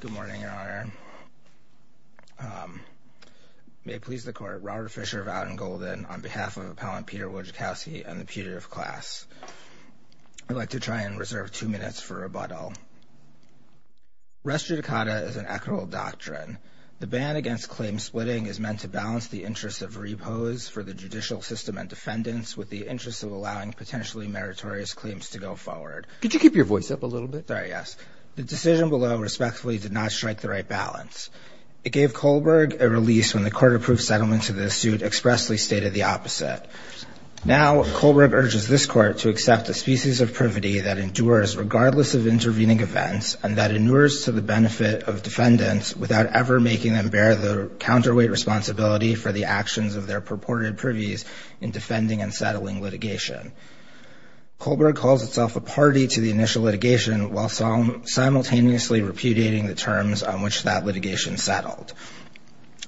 Good morning, your honor. May it please the court, Robert Fischer of Aden-Golden on behalf of appellant Peter Wojciechowski and the putative class. I'd like to try and reserve two minutes for rebuttal. Res judicata is an equitable doctrine. The ban against claim splitting is meant to balance the interest of repose for the judicial system and defendants with the interest of allowing potentially meritorious claims to go forward. Could you keep your voice up a little bit? Sorry, yes. The decision below respectfully did not strike the right balance. It gave Kohlberg a release when the court approved settlement to the suit expressly stated the opposite. Now, Kohlberg urges this court to accept a species of privity that endures regardless of intervening events and that endures to the benefit of defendants without ever making them bear the counterweight responsibility for the actions of their purported privies in defending and settling litigation. Kohlberg calls itself a party to the initial litigation while simultaneously repudiating the terms on which that litigation settled.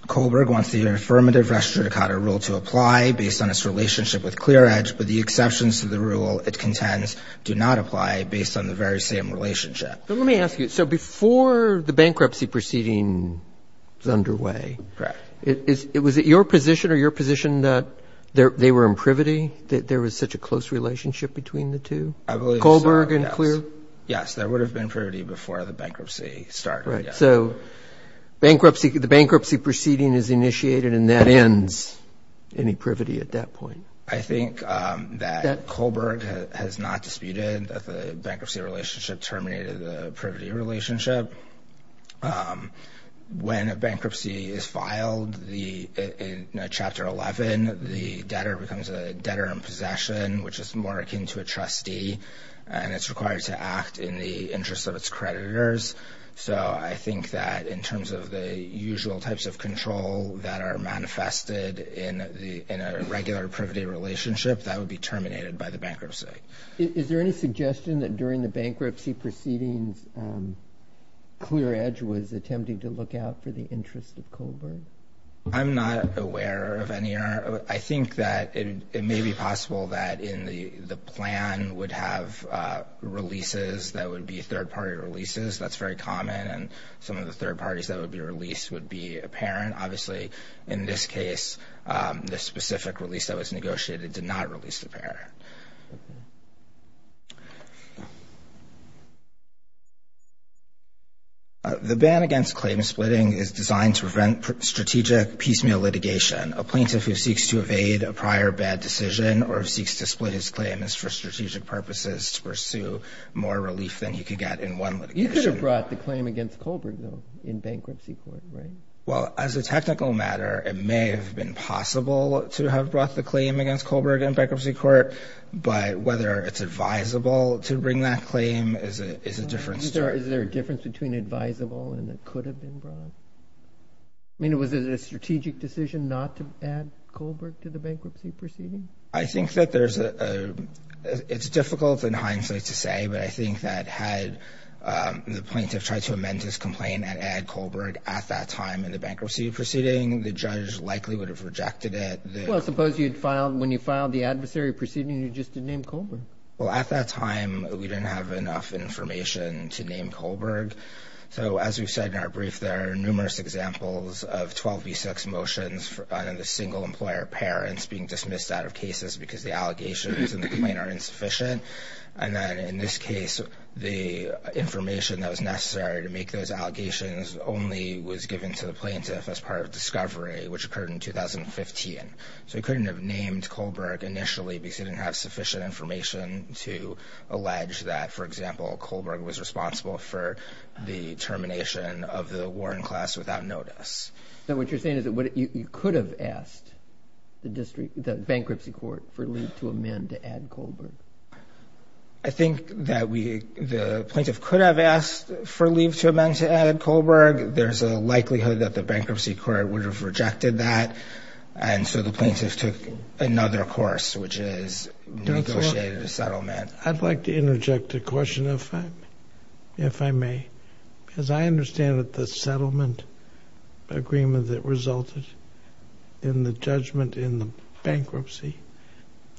Kohlberg wants the affirmative res judicata rule to apply based on its relationship with ClearEdge, but the exceptions to the rule it contends do not apply based on the very same relationship. But let me ask you, so before the bankruptcy proceeding was underway, it was at your position or your position that they were in privity, that there was such a close relationship between the two? I believe so. Kohlberg and ClearEdge? Yes, there would have been privity before the bankruptcy started. Right, so bankruptcy, the bankruptcy proceeding is initiated and that ends any privity at that point. I think that Kohlberg has not disputed that the bankruptcy relationship terminated the privity relationship. When a bankruptcy is filed, in Chapter 11, the debtor becomes a debtor in possession, which is more akin to a trustee, and it's required to act in the interest of its creditors. So I think that in terms of the usual types of control that are manifested in a regular privity relationship, that would be terminated by the bankruptcy. Is there any suggestion that during the bankruptcy proceedings, ClearEdge was attempting to look out for the interest of Kohlberg? I'm not aware of any. I think that it may be possible that in the plan would have releases that would be third-party releases. That's very common, and some of the third parties that would be released would be apparent. Obviously, in this case, the specific release that was negotiated did not release the pair. The ban against claim splitting is designed to prevent strategic piecemeal litigation. A plaintiff who seeks to evade a prior bad decision or seeks to split his claim is for strategic purposes to pursue more relief than he could get in one litigation. You could have brought the claim against Kohlberg, though, in bankruptcy court, right? Well, as a technical matter, it may have been possible to have brought the claim against Kohlberg in bankruptcy court, but whether it's advisable to bring that claim is a different story. Is there a difference between advisable and it could have been brought? I mean, was it a strategic decision not to add Kohlberg to the bankruptcy proceedings? I think that it's difficult and hindsight to say, but I think that had the plaintiff tried to amend his complaint and add Kohlberg at that time in the bankruptcy proceeding, the judge likely would have rejected it. Well, I suppose when you filed the adversary proceeding, you just didn't name Kohlberg. Well, at that time, we didn't have enough information to name Kohlberg. So as we've said in our brief, there are numerous examples of 12b6 motions for the single employer parents being dismissed out of cases because the allegations in the complaint are insufficient. And then in this that was necessary to make those allegations only was given to the plaintiff as part of discovery, which occurred in 2015. So he couldn't have named Kohlberg initially because he didn't have sufficient information to allege that, for example, Kohlberg was responsible for the termination of the Warren class without notice. So what you're saying is that you could have asked the bankruptcy court to amend to add Kohlberg. I think that the plaintiff could have asked for leave to amend to add Kohlberg. There's a likelihood that the bankruptcy court would have rejected that. And so the plaintiff took another course, which is negotiated a settlement. I'd like to interject a question if I may, because I understand that the settlement agreement that resulted in the judgment in the bankruptcy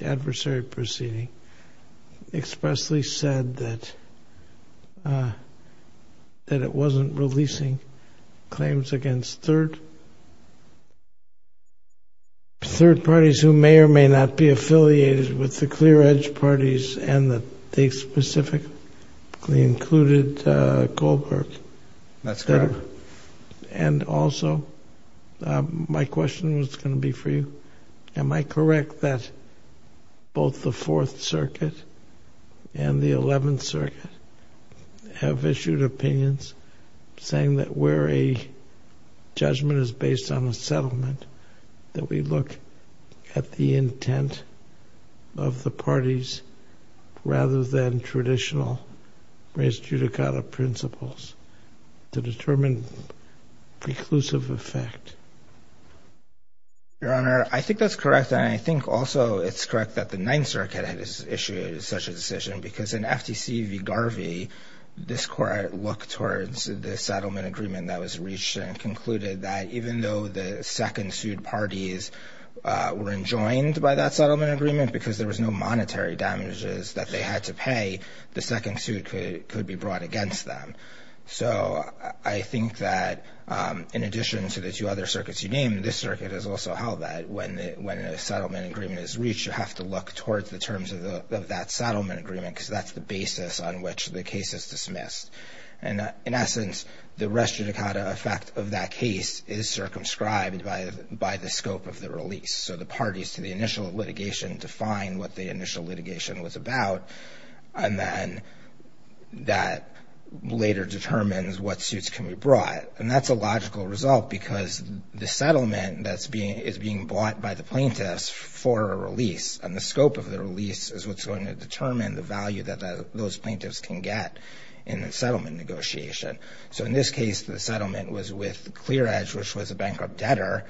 adversary proceeding expressly said that it wasn't releasing claims against third parties who may or may not be affiliated with the clear edge parties and that they specifically included Kohlberg. And also my question was going to be for you. Am I correct that both the Fourth Circuit and the Eleventh Circuit have issued opinions saying that where a judgment is based on a settlement, that we look at the intent of the parties rather than traditional res judicata principles to determine preclusive effect? Your Honor, I think that's correct. And I think also it's correct that the Ninth Circuit had issued such a decision because in FTC v Garvey, this court looked towards the settlement agreement that was reached and concluded that even though the second sued parties were enjoined by that settlement agreement because there was no monetary damages that they had to pay, the second suit could be brought against them. So I think that in addition to the two other circuits you named, this circuit has also held that when a settlement agreement is reached, you have to look towards the terms of that settlement agreement because that's the basis on which the case is dismissed. And in essence, the res judicata effect of that case is circumscribed by the scope of the release. So the parties to the initial litigation define what the initial litigation was about. And then that later determines what suits can be brought. And that's a logical result because the settlement that's being is being bought by the plaintiffs for a release and the scope of the release is what's going to determine the value that those plaintiffs can get in the settlement negotiation. So in this case, the settlement was with ClearEdge, which was a bankrupt debtor.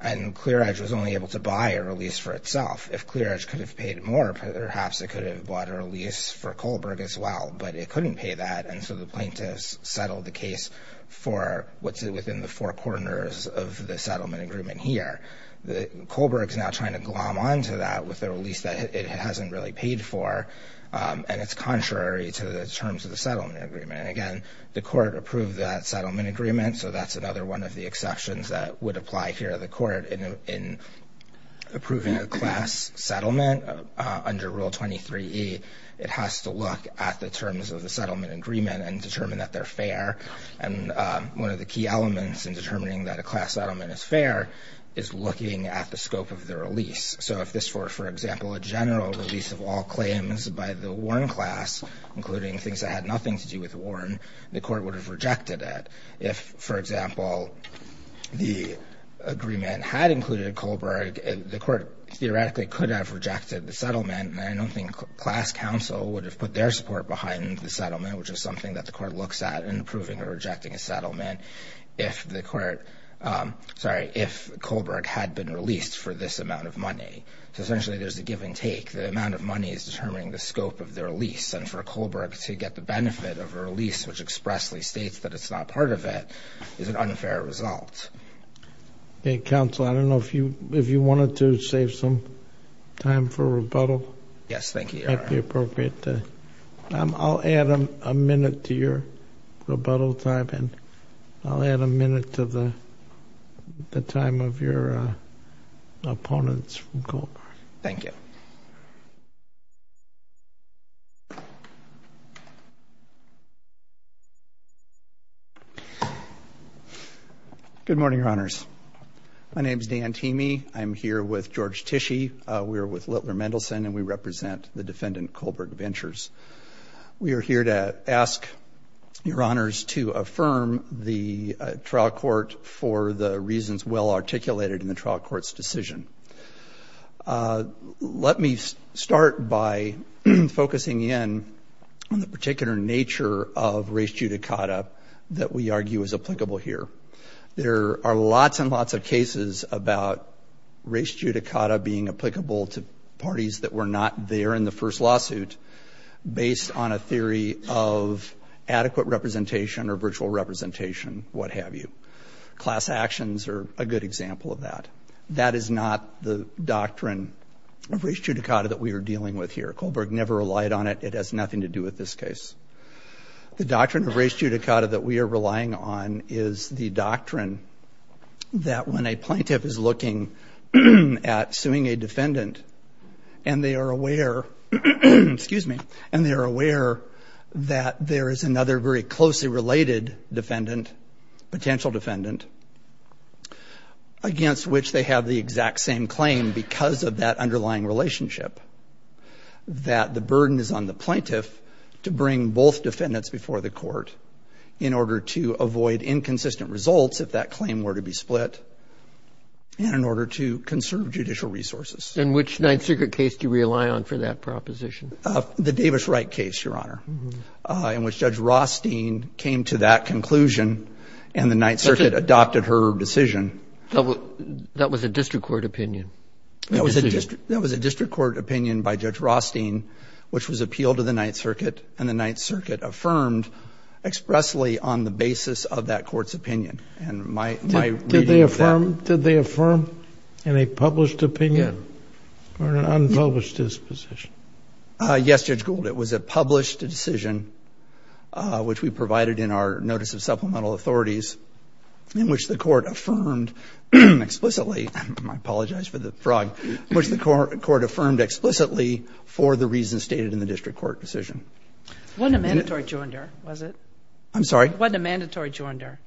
And ClearEdge was only able to buy a release for itself. If ClearEdge could have paid more, perhaps it could have bought a release for Kohlberg as but it couldn't pay that. And so the plaintiffs settled the case for what's within the four corners of the settlement agreement here. Kohlberg's now trying to glom onto that with the release that it hasn't really paid for. And it's contrary to the terms of the settlement agreement. Again, the court approved that settlement agreement. So that's another one of the exceptions that would apply here at the court in approving a class settlement under Rule 23E. It has to look at the terms of the settlement agreement and determine that they're fair. And one of the key elements in determining that a class settlement is fair is looking at the scope of the release. So if this were, for example, a general release of all claims by the Warren class, including things that had nothing to do with Warren, the court would have rejected it. If, for example, the agreement had included Kohlberg, the court theoretically could have rejected the settlement. And I don't think class counsel would have put their support behind the settlement, which is something that the court looks at in approving or rejecting a settlement if the court, sorry, if Kohlberg had been released for this amount of money. So essentially there's a give and take. The amount of money is determining the scope of their release. And for Kohlberg to get the benefit of a release, which expressly states that it's not part of it, is an unfair result. Okay, counsel, I don't know if you wanted to save some time for rebuttal. Yes, thank you, Your Honor. I'll add a minute to your rebuttal time and I'll add a minute to the time of your opponents from Kohlberg. Thank you. Good morning, Your Honors. My name is Dan Teamey. I'm here with George Tische. We are with Littler Mendelson and we represent the defendant Kohlberg Ventures. We are here to ask Your Honors to affirm the trial court for the reasons well articulated in the trial court's decision. Let me start by focusing in on the particular nature of res judicata that we argue is applicable here. There are lots and lots of cases about res judicata being applicable to parties that were not there in the first lawsuit based on a theory of adequate representation or virtual representation, what have you. Class actions are a good example of that. That is not the doctrine of res judicata that we are dealing with here. Kohlberg never relied on it. It has nothing to do with this case. The doctrine of res judicata that we are relying on is the doctrine that when a plaintiff is looking at suing a defendant and they are aware, excuse me, and they are aware that there is another very potential defendant against which they have the exact same claim because of that underlying relationship that the burden is on the plaintiff to bring both defendants before the court in order to avoid inconsistent results if that claim were to be split and in order to conserve judicial resources. And which Ninth Secret case do you rely on for that proposition? The Davis Wright case, Your Honor, in which Judge Rothstein came to that conclusion and the Ninth Circuit adopted her decision. That was a district court opinion? That was a district court opinion by Judge Rothstein which was appealed to the Ninth Circuit and the Ninth Circuit affirmed expressly on the basis of that court's opinion. Did they affirm in a published opinion or an unpublished disposition? Yes, Judge Gould, it was a published decision which we provided in our notice of supplemental authorities in which the court affirmed explicitly, I apologize for the frog, which the court affirmed explicitly for the reasons stated in the district court decision. It wasn't a mandatory joinder, was it? I'm sorry? It wasn't a mandatory joinder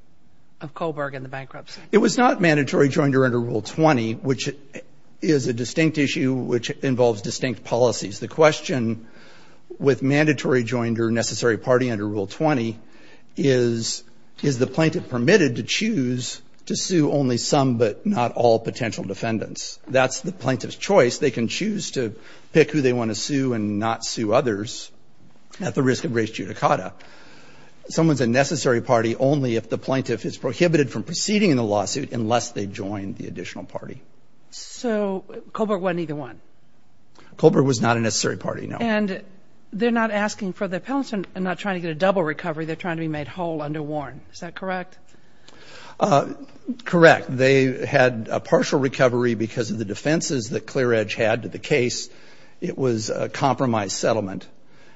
of Kohlberg and the bankruptcy. It was not mandatory joinder under Rule 20, which is a distinct issue which involves distinct policies. The question with mandatory joinder, necessary party under Rule 20 is, is the plaintiff permitted to choose to sue only some but not all potential defendants? That's the plaintiff's choice. They can choose to pick who they want to sue and not sue others at the risk of race judicata. Someone's a necessary party only if the plaintiff is prohibited from proceeding in the lawsuit unless they join the additional party. So Kohlberg won either one? Kohlberg was not a necessary party, no. And they're not asking for the penalty and not trying to get a double recovery. They're trying to be made whole under Warren. Is that correct? Correct. They had a partial recovery because of the defenses that Clear Edge had to the case. It was a compromised settlement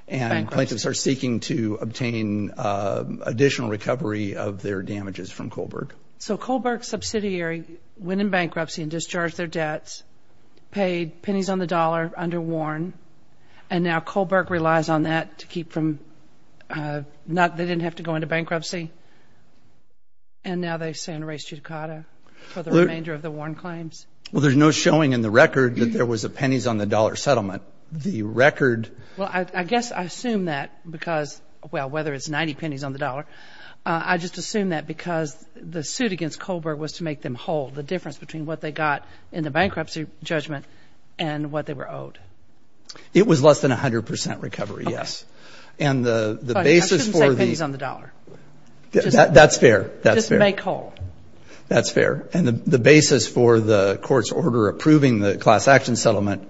and plaintiffs are seeking to obtain additional recovery of their damages from Kohlberg. So Kohlberg subsidiary went in bankruptcy and discharged their debts, paid pennies on the dollar under Warren, and now Kohlberg relies on that to keep from not, they didn't have to go into bankruptcy. And now they stand race judicata for the remainder of the Warren claims. Well, there's no showing in the record that there was a pennies on the dollar settlement. The record. Well, I guess I assume that because, well, whether it's 90 pennies on the dollar, I just assume that because the suit against Kohlberg was to make them whole. The difference between what they got in the bankruptcy judgment and what they were owed. It was less than 100 percent recovery. Yes. And the basis for these on the dollar. That's fair. That's fair. Make whole. That's fair. And the basis for the court's order approving the class action settlement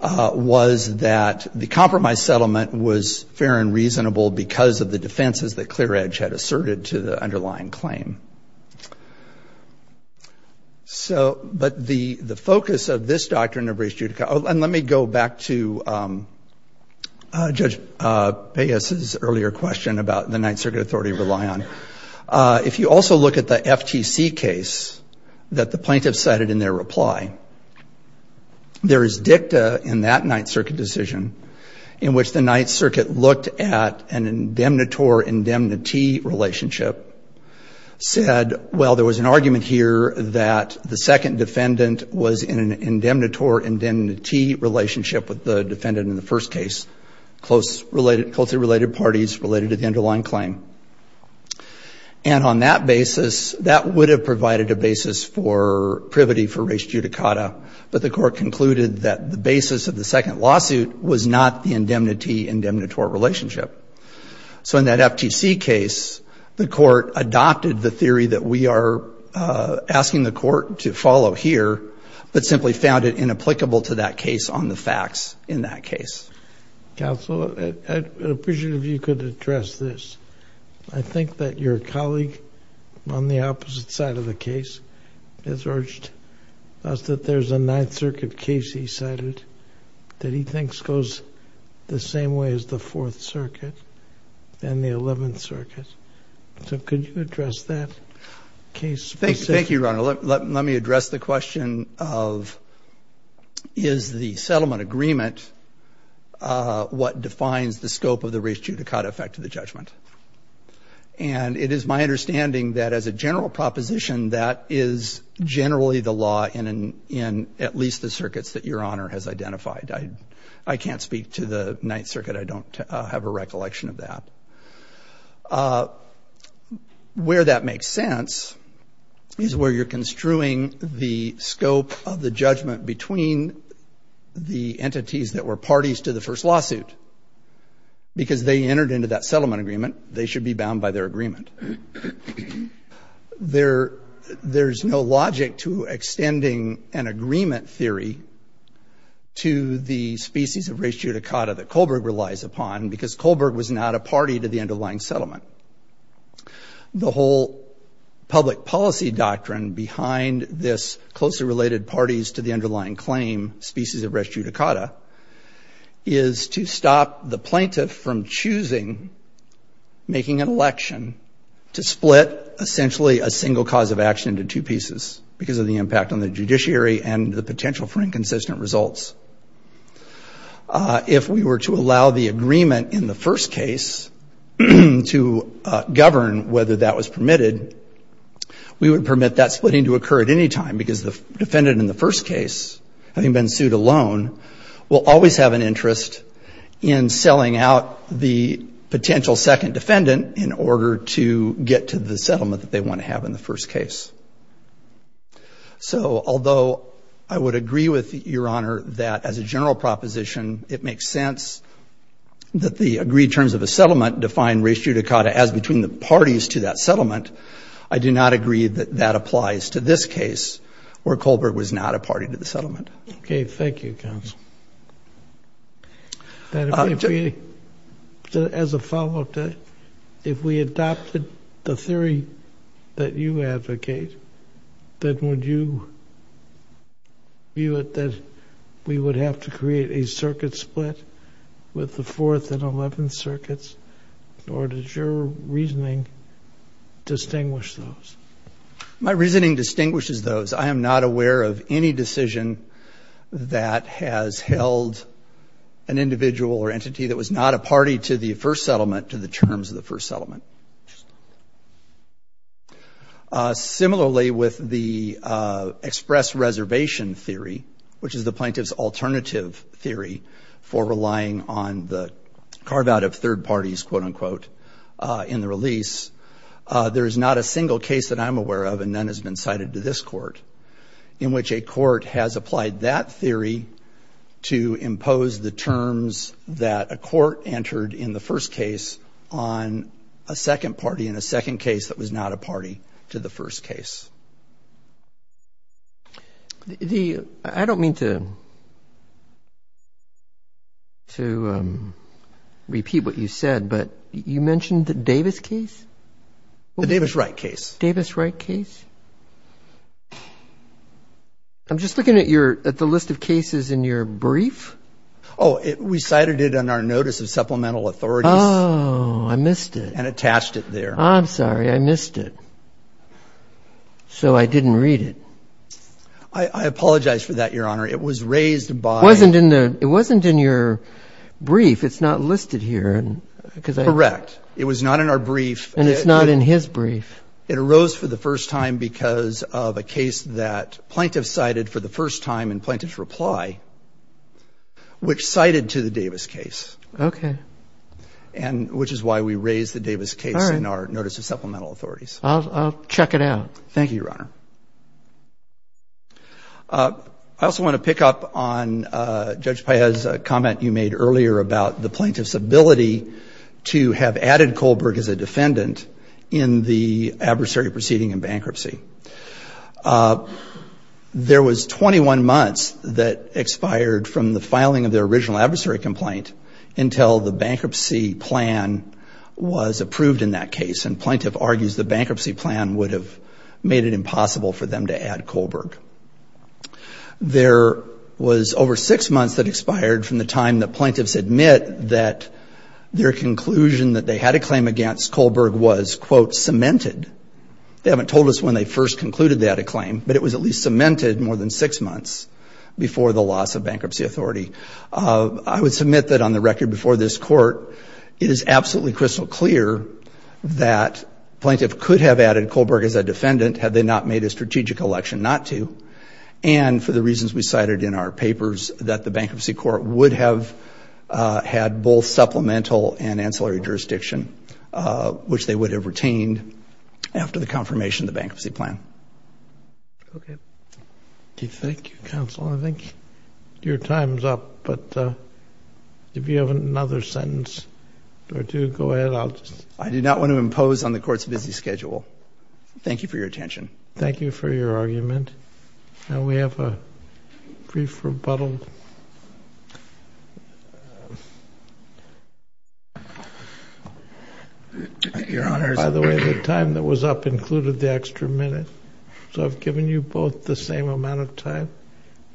was that the compromised settlement was fair and reasonable because of the defenses that but the focus of this doctrine of race judicata, and let me go back to Judge Peyas's earlier question about the Ninth Circuit Authority rely on. If you also look at the FTC case that the plaintiff cited in their reply, there is dicta in that Ninth Circuit decision in which the Ninth Circuit looked at an indemnitor relationship, said, well, there was an argument here that the second defendant was in an indemnitor indemnity relationship with the defendant in the first case, closely related parties related to the underlying claim. And on that basis, that would have provided a basis for privity for race judicata. But the court concluded that the basis of the second lawsuit was not the indemnity indemnitor relationship. So in that FTC case, the court adopted the theory that we are asking the court to follow here, but simply found it inapplicable to that case on the facts in that case. Counsel, I'd appreciate if you could address this. I think that your colleague on the opposite side of the case has urged us that there's a Ninth Circuit case he cited that he thinks goes the same way as the Fourth Circuit and the Eleventh Circuit. So could you address that case? Thank you, Your Honor. Let me address the question of is the settlement agreement what defines the scope of the race judicata effect of the judgment. And it is my understanding that as a general proposition, that is generally the law in at least the circuits that Your Honor has identified. I can't speak to the Ninth Circuit. I don't have a recollection of that. Where that makes sense is where you're construing the scope of the judgment between the entities that were parties to the first lawsuit. Because they entered into that settlement agreement, they should be bound by their There's no logic to extending an agreement theory to the species of race judicata that Kohlberg relies upon because Kohlberg was not a party to the underlying settlement. The whole public policy doctrine behind this closely related parties to the underlying claim species of race judicata is to stop the plaintiff from choosing, making an election to split essentially a single cause of action into two pieces because of the impact on the judiciary and the potential for inconsistent results. If we were to allow the agreement in the first case to govern whether that was permitted, we would permit that splitting to occur at any time because the defendant in the first case, having been sued alone, will always have an interest in selling out the potential second defendant in order to get to the settlement that they want to have in the first case. So although I would agree with Your Honor that as a general proposition it makes sense that the agreed terms of a settlement define race judicata as between the parties to that settlement, I do not agree that that applies to this case where Kohlberg was not a party to the settlement. Okay, thank you, counsel. As a follow-up, if we adopted the theory that you advocate, then would you view it that we would have to create a circuit split with the 4th and 11th circuits, or does your reasoning distinguish those? My reasoning distinguishes those. I am not aware of any decision that has held an individual or entity that was not a party to the first settlement to the terms of the first settlement. Similarly, with the express reservation theory, which is the plaintiff's alternative theory for relying on the carve-out of third parties, quote-unquote, in the release, there is not a single case that I'm aware of, and none has been cited to this court, in which a court has applied that theory to impose the terms that a court entered in the first case on a second party in a second case that was not a party to the first case. I don't mean to repeat what you said, but you mentioned the Davis case? The Davis-Wright case. Davis-Wright case. I'm just looking at the list of cases in your brief. Oh, we cited it in our notice of supplemental authorities. Oh, I missed it. And attached it there. I'm sorry, I missed it. So I didn't read it. I apologize for that, Your Honor. It was raised by... It wasn't in your brief. It's not listed here. Correct. It was not in our brief. And it's not in his brief. It arose for the first time because of a case that plaintiff cited for the first time in plaintiff's reply, which cited to the Davis case. Okay. And which is why we raised the Davis case in our notice of supplemental authorities. I'll check it out. Thank you, Your Honor. I also want to pick up on Judge Paez's comment you made earlier about the plaintiff's ability to have added Kohlberg as a defendant in the adversary proceeding in bankruptcy. There was 21 months that expired from the filing of the original adversary complaint until the bankruptcy plan was approved in that case. And plaintiff argues the bankruptcy plan would have made it impossible for them to add Kohlberg. There was over six months that expired from the time that plaintiffs admit that their conclusion that they had a claim against Kohlberg was, quote, cemented. They haven't told us when they first concluded they had a claim, but it was at least cemented more than six months before the loss of bankruptcy authority. I would submit that on the record before this court, it is absolutely crystal clear that plaintiff could have added Kohlberg as a defendant had they not made a strategic election not to, and for the reasons we cited in our papers, that the bankruptcy court would have had both supplemental and ancillary jurisdiction, which they would have retained after the confirmation of the bankruptcy plan. Okay. Thank you, counsel. I think your time's up, but if you have another sentence or two, go ahead. I do not want to impose on the court's busy schedule. Thank you for your attention. Thank you for your argument, and we have a brief rebuttal. Your Honor. By the way, the time that was up included the extra minute. So I've given you both the same amount of time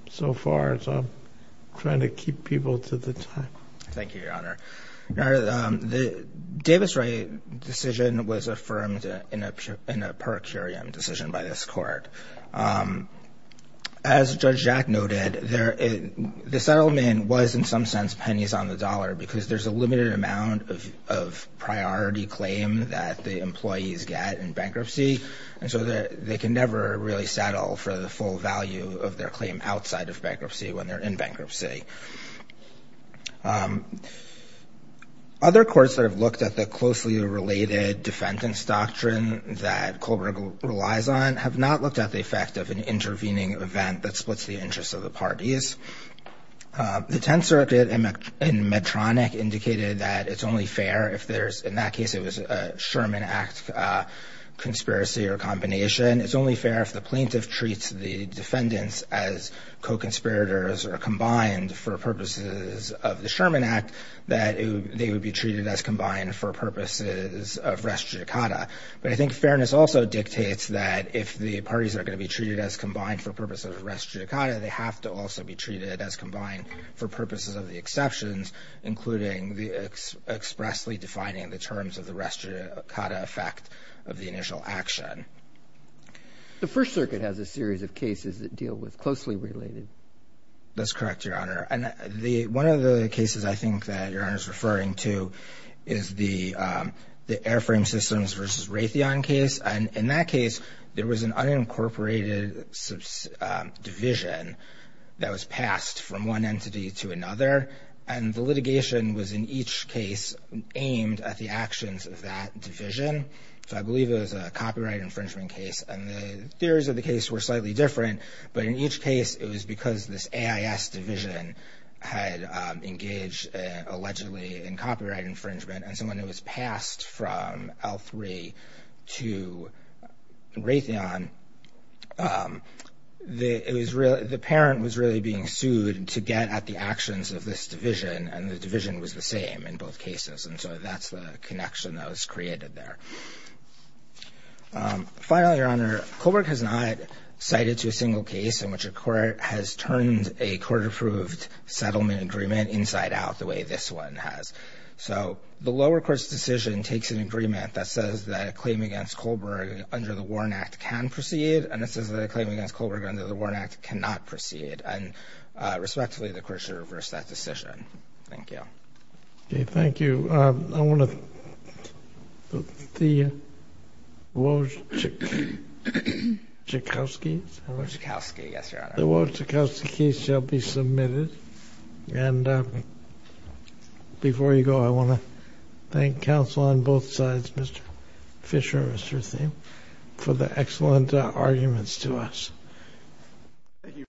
so far, so I'm trying to keep people to the time. Thank you, Your Honor. Your Honor, the Davis-Wright decision was affirmed in a per curiam decision by this court. As Judge Jack noted, the settlement was in some sense pennies on the dollar because there's a limited amount of priority claim that the employees get in bankruptcy, and so they can never really settle for the full value of their claim outside of bankruptcy when they're in bankruptcy. Other courts that have looked at the closely related defendant's doctrine that Kohlberg relies on have not looked at the effect of an intervening event that splits the interests of the parties. The Tenth Circuit in Medtronic indicated that it's only fair if there's, in that case, it was a Sherman Act conspiracy or combination. It's only fair if the plaintiff treats the defendants as co-conspirators or combined for purposes of the Sherman Act that they would be treated as combined for purposes of res judicata. But I think fairness also dictates that if the parties are going to be treated as combined for purposes of res judicata, they have to also be treated as combined for purposes of the exceptions, including expressly defining the terms of the res judicata effect of the initial action. The First Circuit has a series of cases that deal with closely related. That's correct, Your Honor. And one of the cases I think that Your Honor is referring to is the Airframe Systems versus Raytheon case. And in that case, there was an unincorporated division that was passed from one entity to another. And the litigation was, in each case, aimed at the actions of that division. So I believe it was a copyright infringement case. And the theories of the case were slightly different. But in each case, it was because this AIS division had engaged, allegedly, in copyright infringement. And so when it was passed from L3 to Raytheon, the parent was really being sued to get at the actions of this division. And the division was the same in both cases. And so that's the connection that was created there. Finally, Your Honor, Kohlberg has not cited to a single case in which a court has turned a court-approved settlement agreement inside out the way this one has. So the lower court's decision takes an agreement that says that a claim against Kohlberg under the Warren Act can proceed. And it says that a claim against Kohlberg under the Warren Act cannot proceed. And respectively, the court should reverse that decision. Thank you. OK. Thank you. I want to thank the Wojtkowski's. Wojtkowski, yes, Your Honor. The Wojtkowski's shall be submitted. And before you go, I want to thank counsel on both sides, Mr. Fisher and Mr. Thiem, Thank you.